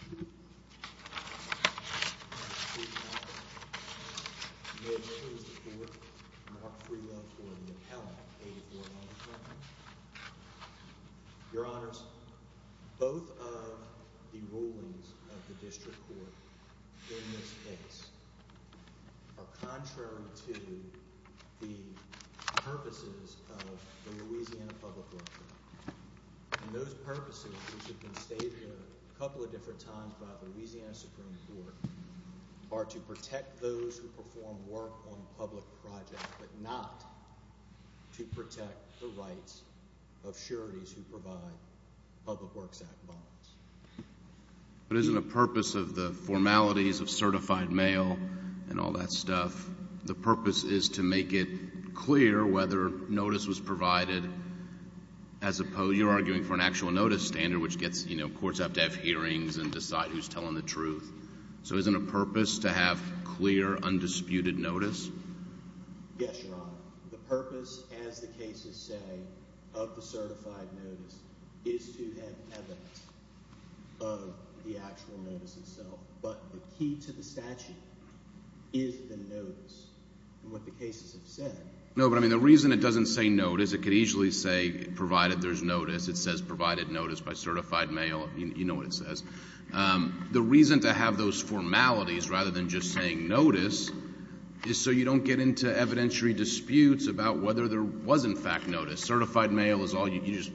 Mark Freeland for the appellate. Your Honors, both of the rulings of the District Court in this case are contrary to the purposes of the Louisiana Public Law Firm. And those purposes, which have been stated a couple of different times by the Louisiana Supreme Court, are to protect those who perform work on public projects, but not to protect the rights of sureties who provide Public Works Act bonds. But isn't the purpose of the formalities of certified mail and all that stuff, the purpose is to make it clear whether notice was provided, as opposed, you're arguing for an actual notice standard, which gets, you know, courts have to have hearings and decide who's telling the truth. So isn't a purpose to have clear, undisputed notice? Yes, Your Honor. The purpose, as the cases say, of the certified notice is to have evidence of the actual notice itself. But the key to the statute is the notice, and what the cases have said. No, but I mean, the reason it doesn't say notice, it could easily say provided there's notice, it says provided notice by certified mail, you know what it says. The reason to have those formalities, rather than just saying notice, is so you don't get into evidentiary disputes about whether there was in fact notice. Certified mail is all, you just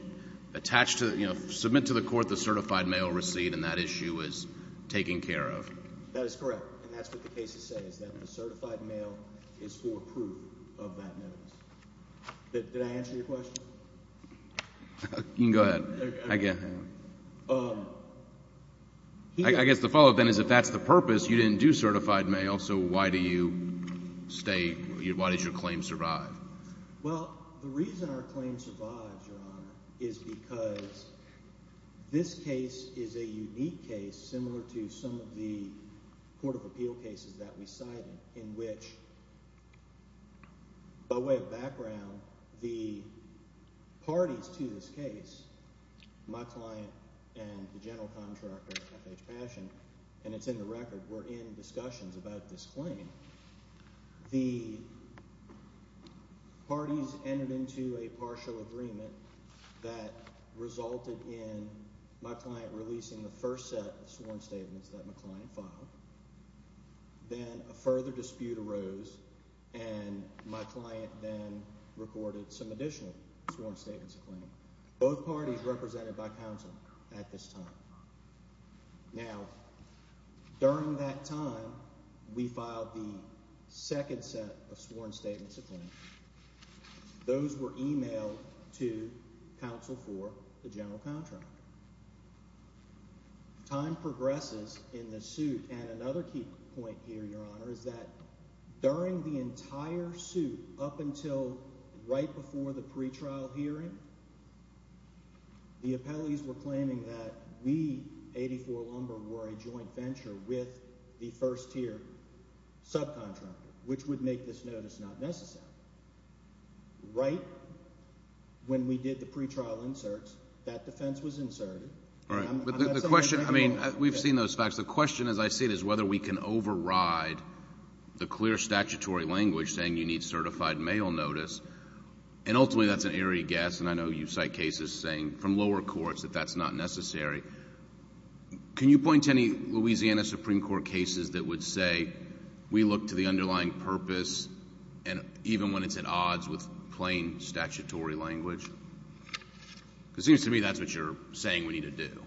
attach to, you know, submit to the court the certified mail receipt and that issue is taken care of. That is correct. And that's what the cases say, is that the certified mail is for proof of that notice. Did I answer your question? You can go ahead. I guess the follow-up then is if that's the purpose, you didn't do certified mail, so why do you stay, why does your claim survive? Well, the reason our claim survives, Your Honor, is because this case is a unique case similar to some of the court of appeal cases that we cited in which, by way of background, the parties to this case, my client and the general contractor, F.H. Passion, and it's in the record, were in discussions about this claim. The parties entered into a partial agreement that resulted in my client releasing the first set of sworn statements that my client filed. Then a further dispute arose and my client then reported some additional sworn statements of claim. Both parties represented by counsel at this time. Now, during that time, we filed the second set of sworn statements of claim. Those were emailed to counsel for the general contractor. Time progresses in this suit, and another key point here, Your Honor, is that during the entire suit up until right before the pretrial hearing, the appellees were claiming that we, 84 Lumber, were a joint venture with the first tier subcontractor, which would make this notice not necessary. Right when we did the pretrial inserts, that defense was inserted. All right. But the question, I mean, we've seen those facts. The question, as I see it, is whether we can override the clear statutory language saying you need certified mail notice, and ultimately that's an airy guess, and I know you cite cases saying from lower courts that that's not necessary. Can you point to any Louisiana Supreme Court cases that would say we look to the underlying purpose, and even when it's at odds with plain statutory language? Because it seems to me that's what you're saying we need to do.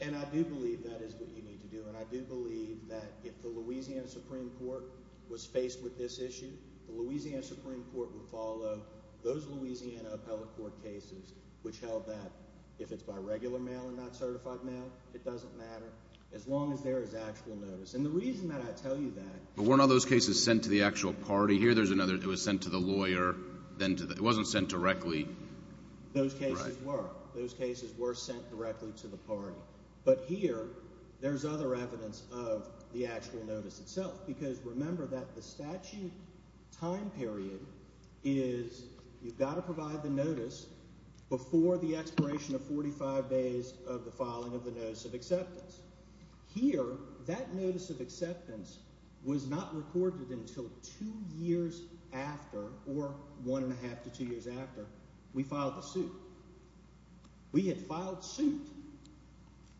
And I do believe that is what you need to do, and I do believe that if the Louisiana Supreme Court was faced with this issue, the Louisiana Supreme Court would follow those Louisiana appellate court cases, which held that if it's by regular mail and not certified mail, it doesn't matter, as long as there is actual notice. And the reason that I tell you that... But weren't all those cases sent to the actual party? Here there's another that was sent to the lawyer, then to the... it wasn't sent directly. Those cases were. Those cases were sent directly to the party. But here, there's other evidence of the actual notice itself, because remember that the statute time period is you've got to provide the notice before the expiration of 45 days of the filing of the notice of acceptance. Here, that notice of acceptance was not recorded until two years after, or one and a half to two years after, we filed the suit. We had filed suit.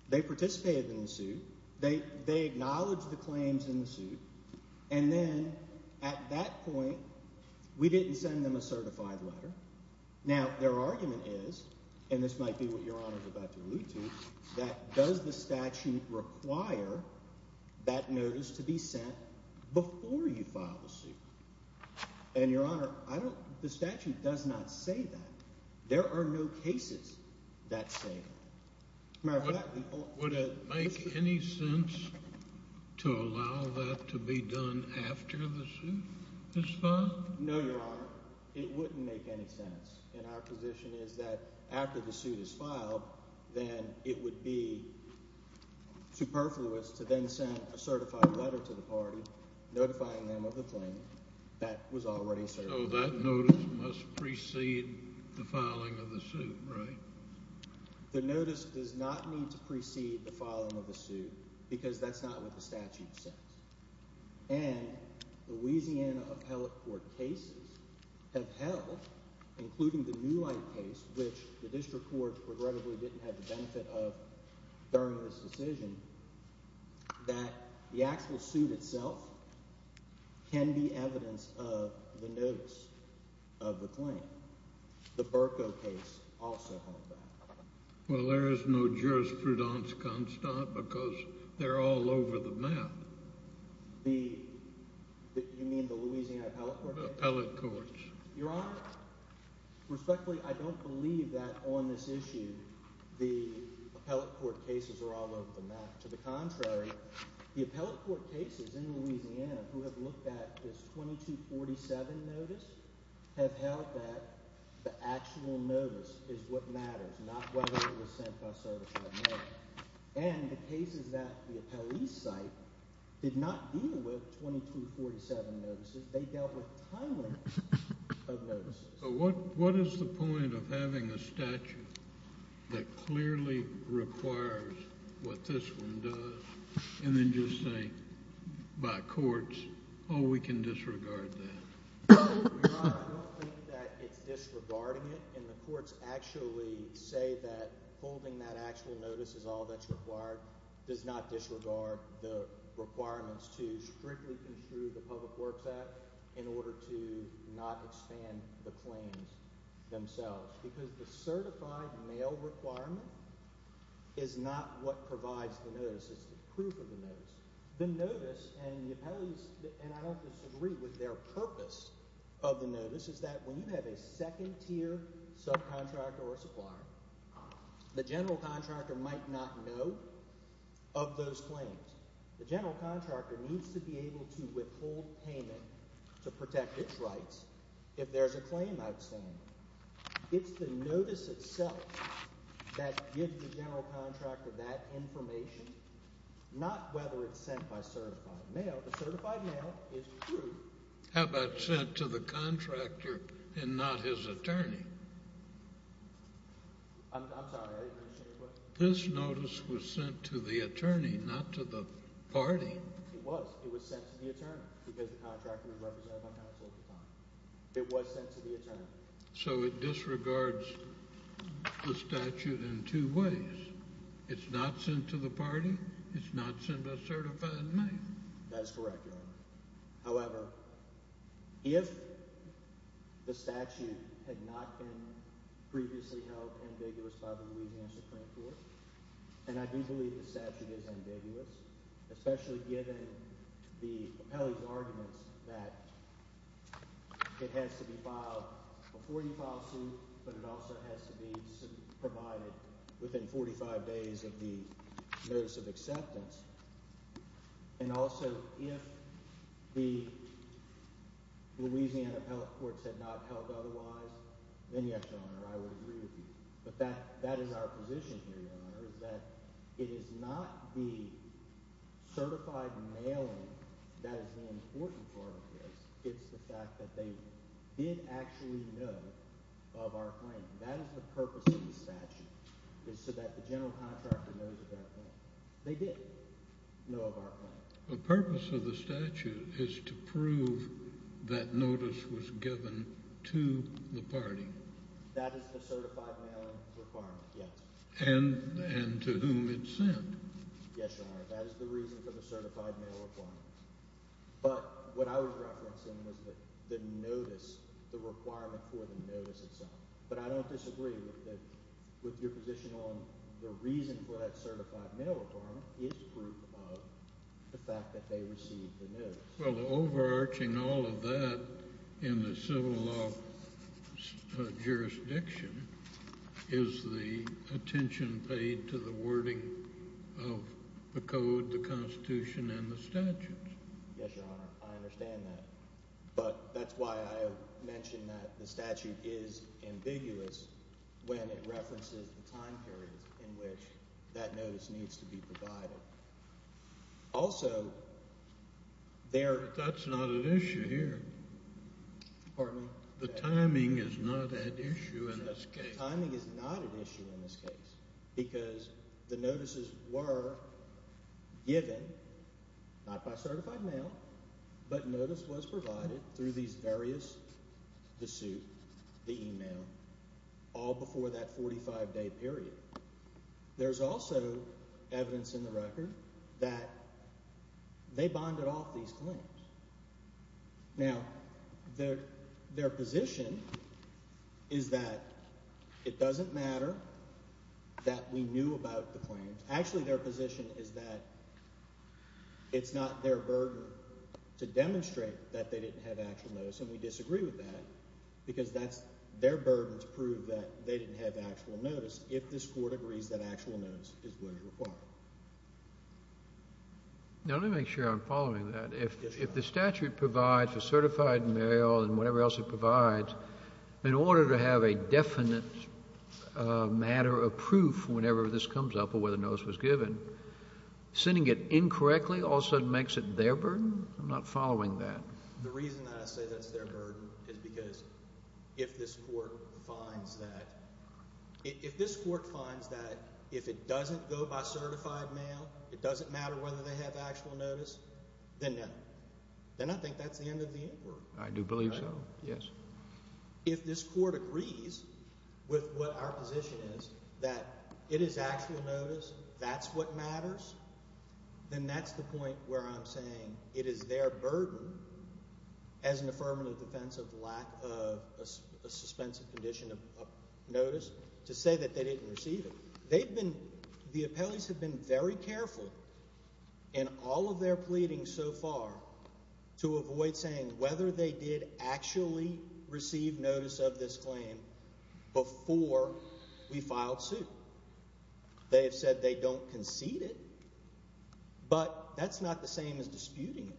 They participated in the suit. They acknowledged the claims in the suit. And then at that point, we didn't send them a certified letter. Now their argument is, and this might be what Your Honor is about to allude to, that does the statute require that notice to be sent before you file the suit? And Your Honor, I don't... the statute does not say that. There are no cases that say that. Would it make any sense to allow that to be done after the suit is filed? No, Your Honor. It wouldn't make any sense. And our position is that after the suit is filed, then it would be superfluous to then send a certified letter to the party notifying them of the claim that was already served. So that notice must precede the filing of the suit, right? So the notice does not need to precede the filing of the suit because that's not what the statute says. And Louisiana appellate court cases have held, including the New Light case, which the district court regrettably didn't have the benefit of during this decision, that the actual suit itself can be evidence of the notice of the claim. The Berko case also held that. Well, there is no jurisprudence constant because they're all over the map. You mean the Louisiana appellate court cases? Appellate courts. Your Honor, respectfully, I don't believe that on this issue the appellate court cases are all over the map. To the contrary, the appellate court cases in Louisiana who have looked at this 2247 notice have held that the actual notice is what matters, not whether it was sent by certified mail. And the cases that the appellee cite did not deal with 2247 notices. They dealt with timelines of notices. So what is the point of having a statute that clearly requires what this one does and then just say by courts, oh, we can disregard that? Your Honor, I don't think that it's disregarding it. And the courts actually say that holding that actual notice is all that's required does not disregard the requirements to strictly construe the Public Works Act in order to not expand the claims themselves. Because the certified mail requirement is not what provides the notice. It's the proof of the notice. The notice and the appellees, and I don't disagree with their purpose of the notice, is that when you have a second-tier subcontractor or supplier, the general contractor might not know of those claims. The general contractor needs to be able to withhold payment to protect its rights if there's a claim outstanding. It's the notice itself that gives the general contractor that information, not whether it's sent by certified mail. The certified mail is proof. How about sent to the contractor and not his attorney? I'm sorry, are you going to change the question? This notice was sent to the attorney, not to the party. It was. It was sent to the attorney because the contractor represented by counsel at the time. It was sent to the attorney. So it disregards the statute in two ways. It's not sent to the party. It's not sent by certified mail. That is correct, Your Honor. However, if the statute had not been previously held ambiguous by the Louisiana Supreme Court, and I do believe the statute is ambiguous, especially given the appellee's arguments that it has to be filed before you file suit, but it also has to be provided within 45 days of the notice of acceptance, and also if the Louisiana appellate courts had not held otherwise, then yes, Your Honor, I would agree with you. It is not the certified mailing that is the important part of this. It's the fact that they did actually know of our claim. That is the purpose of the statute is so that the general contractor knows of our claim. They did know of our claim. The purpose of the statute is to prove that notice was given to the party. That is the certified mailing requirement, yes. And to whom it's sent. Yes, Your Honor. That is the reason for the certified mail requirement. But what I was referencing was the notice, the requirement for the notice itself. But I don't disagree with your position on the reason for that certified mail requirement is proof of the fact that they received the notice. Well, the overarching all of that in the civil law jurisdiction is the attention paid to the wording of the code, the Constitution, and the statute. Yes, Your Honor. I understand that. But that's why I mentioned that the statute is ambiguous when it references the time period in which that notice needs to be provided. Also, there— But that's not an issue here. Pardon me? The timing is not an issue in this case. The timing is not an issue in this case because the notices were given, not by certified mail, but notice was provided through these various—the suit, the email, all before that 45-day period. There's also evidence in the record that they bonded off these claims. Now, their position is that it doesn't matter that we knew about the claims. Actually, their position is that it's not their burden to demonstrate that they didn't have actual notice, and we disagree with that because that's their burden to prove that they didn't have actual notice. If this Court agrees that actual notice is what is required. Now, let me make sure I'm following that. Yes, Your Honor. If the statute provides for certified mail and whatever else it provides, in order to have a definite matter of proof whenever this comes up or where the notice was given, sending it incorrectly also makes it their burden? I'm not following that. The reason that I say that's their burden is because if this Court finds that— if this Court finds that if it doesn't go by certified mail, it doesn't matter whether they have actual notice, then no. Then I think that's the end of the inquiry. I do believe so, yes. If this Court agrees with what our position is, that it is actual notice, that's what matters, then that's the point where I'm saying it is their burden, as an affirmative defense of lack of a suspensive condition of notice, to say that they didn't receive it. They've been—the appellees have been very careful in all of their pleadings so far to avoid saying whether they did actually receive notice of this claim before we filed suit. They have said they don't concede it, but that's not the same as disputing it.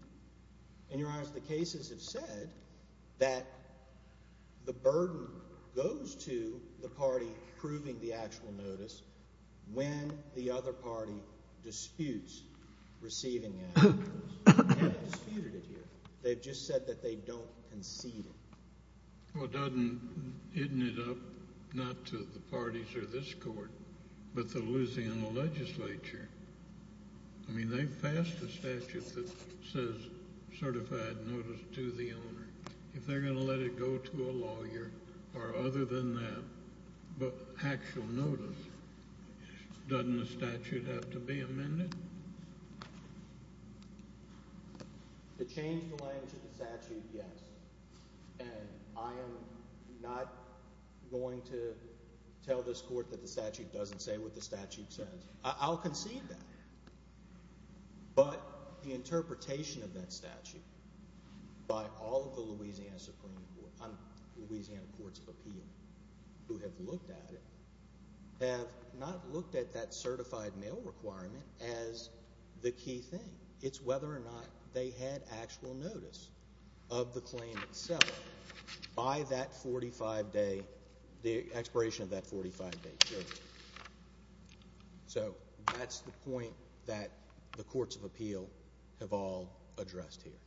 And, Your Honor, the cases have said that the burden goes to the party proving the actual notice when the other party disputes receiving the actual notice. They haven't disputed it here. They've just said that they don't concede it. Well, doesn't—isn't it up not to the parties or this Court, but the Louisiana legislature? I mean, they've passed a statute that says certified notice to the owner. If they're going to let it go to a lawyer or other than that, but actual notice, doesn't the statute have to be amended? To change the language of the statute, yes. And I am not going to tell this Court that the statute doesn't say what the statute says. I'll concede that. But the interpretation of that statute by all of the Louisiana Supreme Court— Louisiana Court of Appeals, who have looked at it, have not looked at that certified mail requirement as the key thing. It's whether or not they had actual notice of the claim itself by that 45-day— the expiration of that 45-day period. So that's the point that the courts of appeal have all addressed here.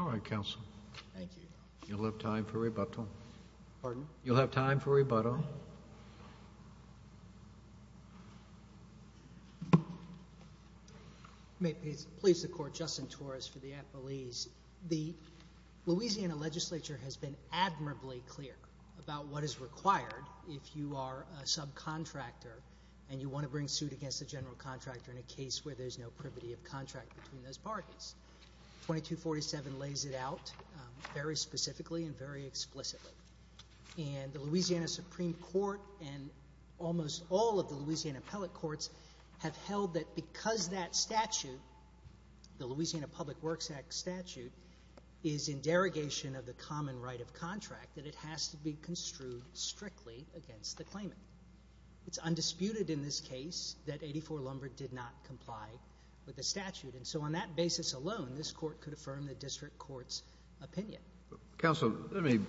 All right, counsel. Thank you. You'll have time for rebuttal. Pardon? You'll have time for rebuttal. You'll have time for rebuttal. May it please the Court, Justin Torres for the appellees. The Louisiana legislature has been admirably clear about what is required if you are a subcontractor and you want to bring suit against a general contractor in a case where there's no privity of contract between those parties. 2247 lays it out very specifically and very explicitly. And the Louisiana Supreme Court and almost all of the Louisiana appellate courts have held that because that statute, the Louisiana Public Works Act statute, is in derogation of the common right of contract, that it has to be construed strictly against the claimant. It's undisputed in this case that 84 Lumber did not comply with the statute. And so on that basis alone, this court could affirm the district court's opinion. Counsel, let me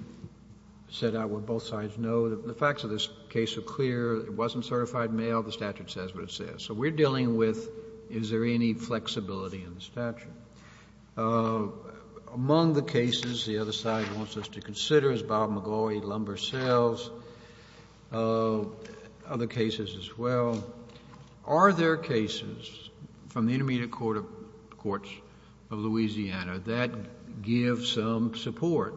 set out what both sides know. The facts of this case are clear. It wasn't certified mail. The statute says what it says. So we're dealing with is there any flexibility in the statute. Among the cases the other side wants us to consider is Bob McGaughy, Lumber Sales, other cases as well. Are there cases from the intermediate courts of Louisiana that give some support,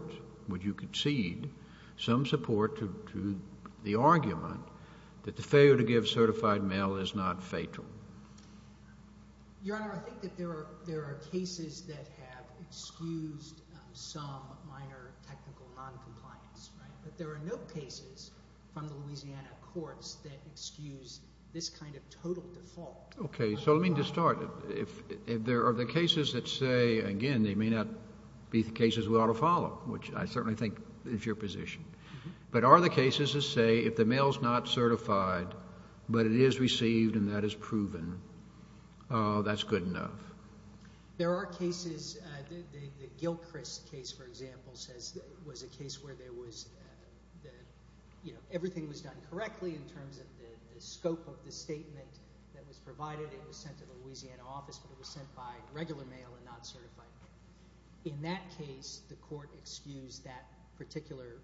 would you concede, some support to the argument that the failure to give certified mail is not fatal? Your Honor, I think that there are cases that have excused some minor technical noncompliance, right? But there are no cases from the Louisiana courts that excuse this kind of total default. Okay, so let me just start. There are the cases that say, again, they may not be the cases we ought to follow, which I certainly think is your position. But are the cases that say if the mail is not certified but it is received and that is proven, that's good enough? There are cases. The Gilchrist case, for example, was a case where everything was done correctly in terms of the scope of the statement that was provided. It was sent to the Louisiana office, but it was sent by regular mail and not certified mail. In that case, the court excused that particular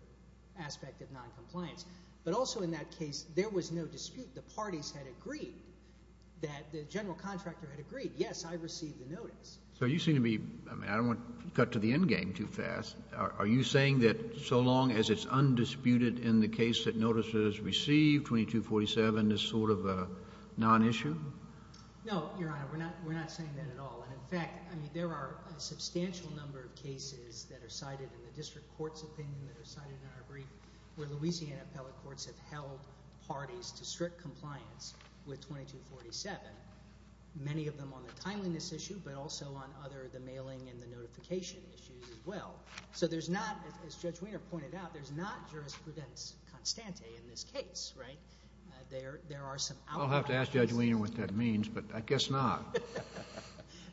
aspect of noncompliance. But also in that case, there was no dispute. The parties had agreed that the general contractor had agreed, yes, I received the notice. So you seem to be – I don't want to cut to the end game too fast. Are you saying that so long as it's undisputed in the case that notice is received, 2247 is sort of a nonissue? No, Your Honor. We're not saying that at all. In fact, there are a substantial number of cases that are cited in the district court's opinion that are cited in our brief where Louisiana appellate courts have held parties to strict compliance with 2247, many of them on the timeliness issue but also on other – the mailing and the notification issues as well. So there's not, as Judge Weiner pointed out, there's not jurisprudence constante in this case, right? There are some outlier cases. I'll have to ask Judge Weiner what that means, but I guess not.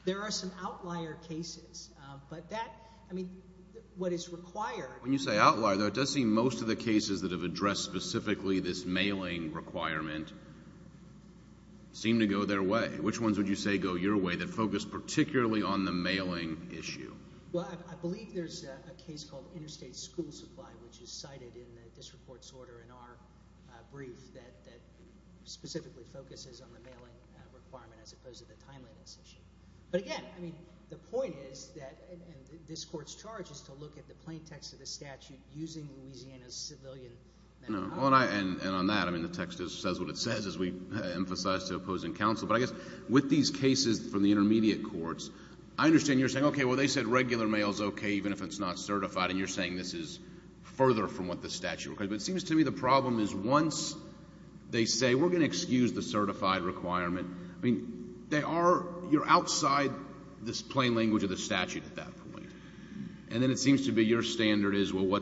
There are some outlier cases. But that – I mean, what is required – When you say outlier, though, it does seem most of the cases that have addressed specifically this mailing requirement seem to go their way. Which ones would you say go your way that focus particularly on the mailing issue? Well, I believe there's a case called Interstate School Supply, which is cited in the district court's order in our brief that specifically focuses on the mailing requirement as opposed to the timeliness issue. But again, I mean, the point is that – and this court's charge is to look at the plain text of the statute using Louisiana's civilian – And on that, I mean, the text says what it says, as we emphasized to opposing counsel. But I guess with these cases from the intermediate courts, I understand you're saying, okay, well, they said regular mail is okay, even if it's not certified. And you're saying this is further from what the statute requires. But it seems to me the problem is once they say, we're going to excuse the certified requirement. I mean, they are – you're outside this plain language of the statute at that point. And then it seems to be your standard is, well,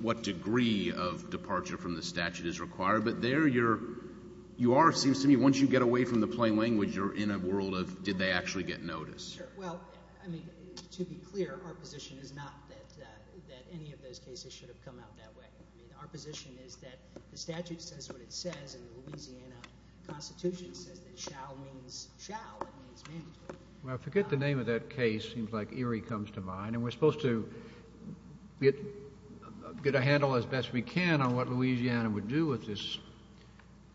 what degree of departure from the statute is required. But there you are, it seems to me, once you get away from the plain language, you're in a world of did they actually get notice. Sure. Well, I mean, to be clear, our position is not that any of those cases should have come out that way. Our position is that the statute says what it says, and the Louisiana Constitution says that shall means shall. It means mandatory. Well, I forget the name of that case. It seems like Erie comes to mind. And we're supposed to get a handle as best we can on what Louisiana would do with this.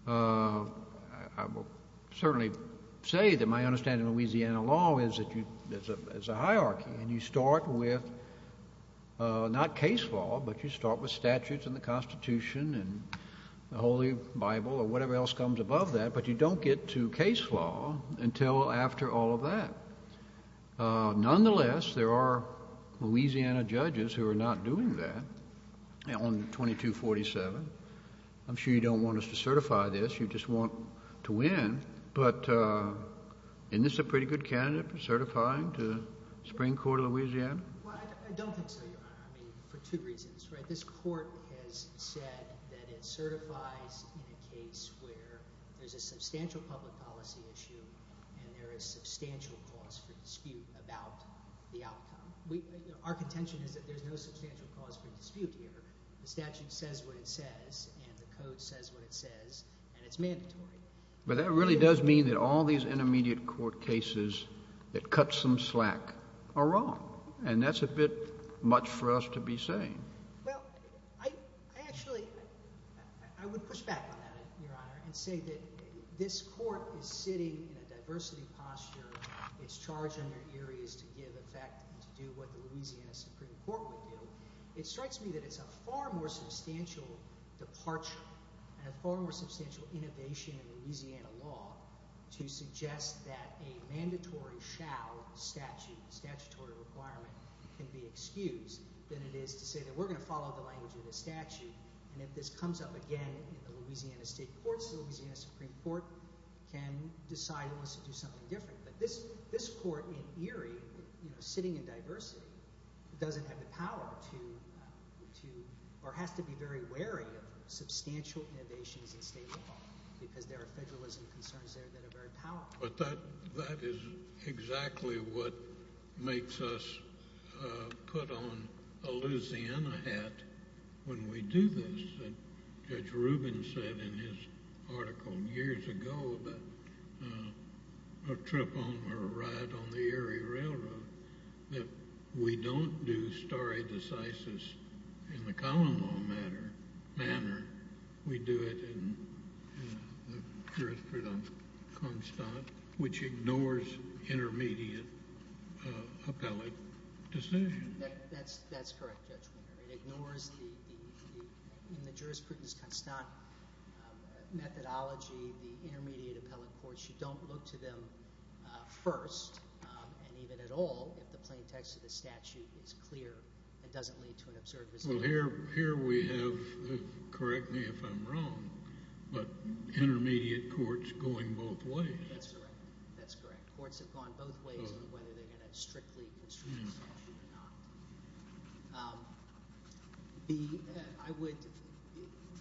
I will certainly say that my understanding of Louisiana law is that it's a hierarchy. And you start with not case law, but you start with statutes and the Constitution and the Holy Bible or whatever else comes above that. But you don't get to case law until after all of that. Nonetheless, there are Louisiana judges who are not doing that on 2247. I'm sure you don't want us to certify this. You just want to win. But isn't this a pretty good candidate for certifying to the Supreme Court of Louisiana? Well, I don't think so, Your Honor. I mean, for two reasons, right? This court has said that it certifies in a case where there's a substantial public policy issue and there is substantial cause for dispute about the outcome. Our contention is that there's no substantial cause for dispute here. The statute says what it says, and the code says what it says, and it's mandatory. But that really does mean that all these intermediate court cases that cut some slack are wrong. And that's a bit much for us to be saying. Well, I actually—I would push back on that, Your Honor, and say that this court is sitting in a diversity posture. It's charged under Eries to give effect and to do what the Louisiana Supreme Court would do. It strikes me that it's a far more substantial departure and a far more substantial innovation in Louisiana law to suggest that a mandatory shall statute, statutory requirement, can be excused than it is to say that we're going to follow the language of the statute. And if this comes up again in the Louisiana state courts, the Louisiana Supreme Court can decide it wants to do something different. But this court in Erie, sitting in diversity, doesn't have the power to— or has to be very wary of substantial innovations in state law because there are federalism concerns there that are very powerful. But that is exactly what makes us put on a Louisiana hat when we do this. Judge Rubin said in his article years ago about a trip on or a ride on the Erie Railroad that we don't do stare decisis in the common law manner. We do it in the jurisprudential constant, which ignores intermediate appellate decisions. That's correct, Judge Winter. It ignores, in the jurisprudence constant methodology, the intermediate appellate courts. You don't look to them first, and even at all, if the plain text of the statute is clear and doesn't lead to an absurd decision. Well, here we have—correct me if I'm wrong—but intermediate courts going both ways. That's correct. That's correct. Courts have gone both ways on whether they're going to strictly construe the statute or not.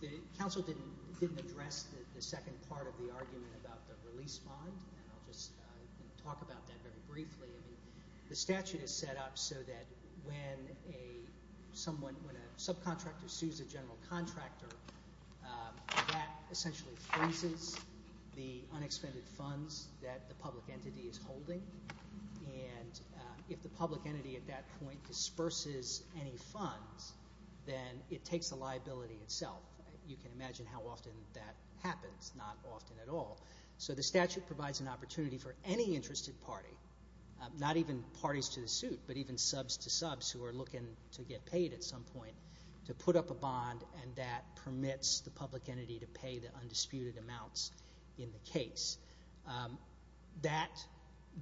The counsel didn't address the second part of the argument about the release bond, and I'll just talk about that very briefly. The statute is set up so that when a subcontractor sues a general contractor, that essentially freezes the unexpended funds that the public entity is holding, and if the public entity at that point disperses any funds, then it takes the liability itself. You can imagine how often that happens, not often at all. So the statute provides an opportunity for any interested party, not even parties to the suit, but even subs to subs who are looking to get paid at some point, to put up a bond and that permits the public entity to pay the undisputed amounts in the case. That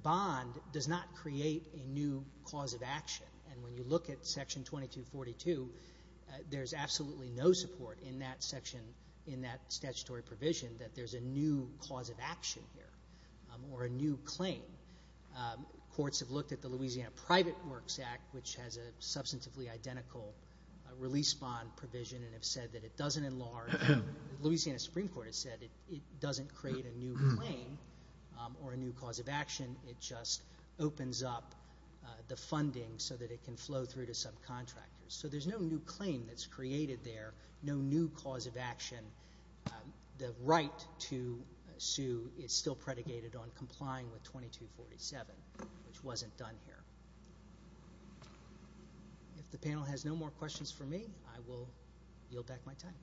bond does not create a new cause of action, and when you look at Section 2242, there's absolutely no support in that section, in that statutory provision, that there's a new cause of action here or a new claim. Courts have looked at the Louisiana Private Works Act, which has a substantively identical release bond provision, and have said that it doesn't enlarge. The Louisiana Supreme Court has said it doesn't create a new claim or a new cause of action. It just opens up the funding so that it can flow through to subcontractors. So there's no new claim that's created there, no new cause of action. The right to sue is still predicated on complying with 2247, which wasn't done here. If the panel has no more questions for me, I will yield back my time.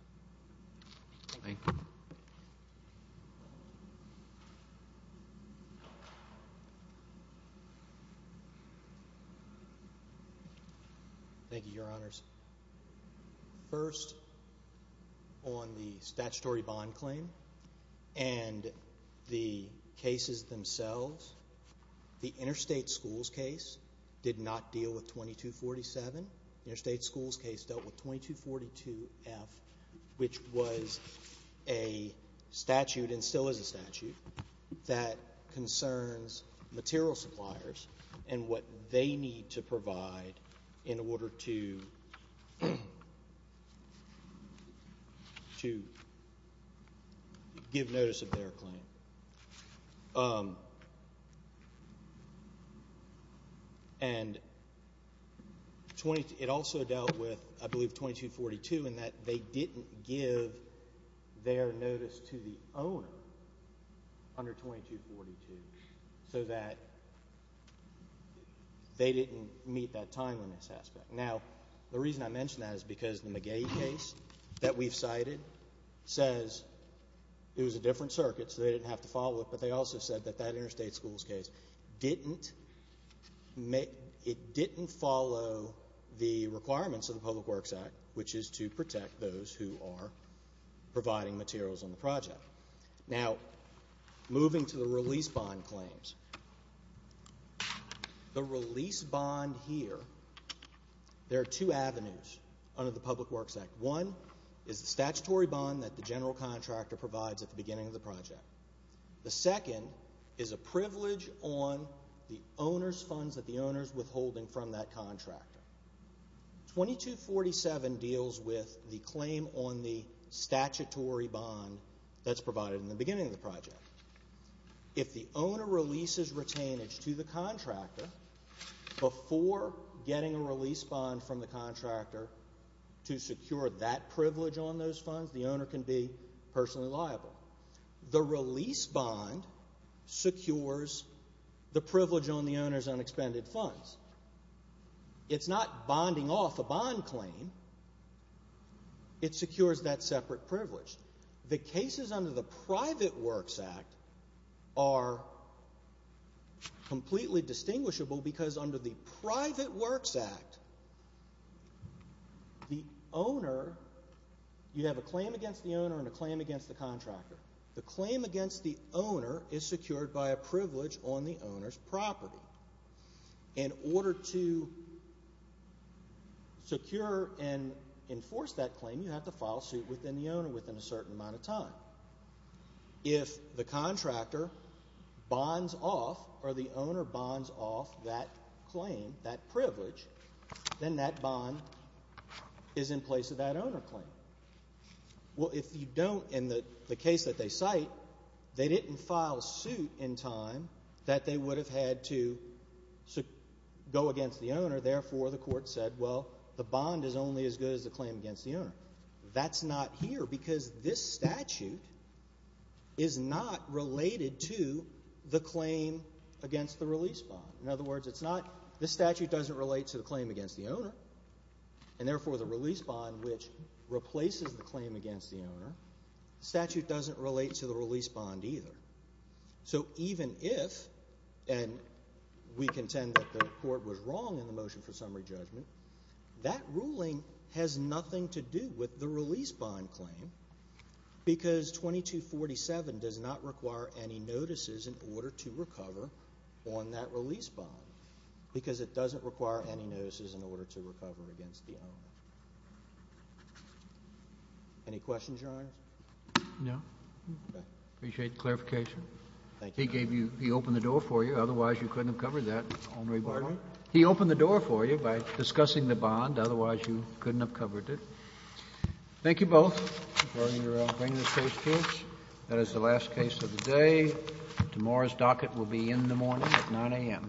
Thank you. Thank you, Your Honors. First, on the statutory bond claim and the cases themselves, the interstate schools case did not deal with 2247. The interstate schools case dealt with 2242F, which was a statute, and still is a statute, that concerns material suppliers and what they need to provide in order to give notice of their claim. And it also dealt with, I believe, 2242, in that they didn't give their notice to the owner under 2242, so that they didn't meet that timeliness aspect. Now, the reason I mention that is because the Magee case that we've cited says it was a different circuit, so they didn't have to follow it. But they also said that that interstate schools case didn't follow the requirements of the Public Works Act, which is to protect those who are providing materials on the project. Now, moving to the release bond claims. The release bond here, there are two avenues under the Public Works Act. One is the statutory bond that the general contractor provides at the beginning of the project. The second is a privilege on the owner's funds that the owner is withholding from that contractor. 2247 deals with the claim on the statutory bond that's provided in the beginning of the project. If the owner releases retainage to the contractor before getting a release bond from the contractor to secure that privilege on those funds, the owner can be personally liable. The release bond secures the privilege on the owner's unexpended funds. It's not bonding off a bond claim. It secures that separate privilege. The cases under the Private Works Act are completely distinguishable because under the Private Works Act, the owner, you have a claim against the owner and a claim against the contractor. The claim against the owner is secured by a privilege on the owner's property. In order to secure and enforce that claim, you have to file suit within the owner within a certain amount of time. If the contractor bonds off or the owner bonds off that claim, that privilege, then that bond is in place of that owner claim. Well, if you don't, in the case that they cite, they didn't file suit in time that they would have had to go against the owner. Therefore, the court said, well, the bond is only as good as the claim against the owner. That's not here because this statute is not related to the claim against the release bond. In other words, this statute doesn't relate to the claim against the owner, and therefore the release bond, which replaces the claim against the owner, the statute doesn't relate to the release bond either. So even if, and we contend that the court was wrong in the motion for summary judgment, that ruling has nothing to do with the release bond claim because 2247 does not require any notices in order to recover on that release bond because it doesn't require any notices in order to recover against the owner. Any questions, Your Honor? No. Okay. Appreciate the clarification. Thank you. He gave you, he opened the door for you. Otherwise, you couldn't have covered that. Pardon me? He opened the door for you by discussing the bond. Otherwise, you couldn't have covered it. Thank you both for bringing this case to us. That is the last case of the day. Tomorrow's docket will be in the morning at 9 a.m.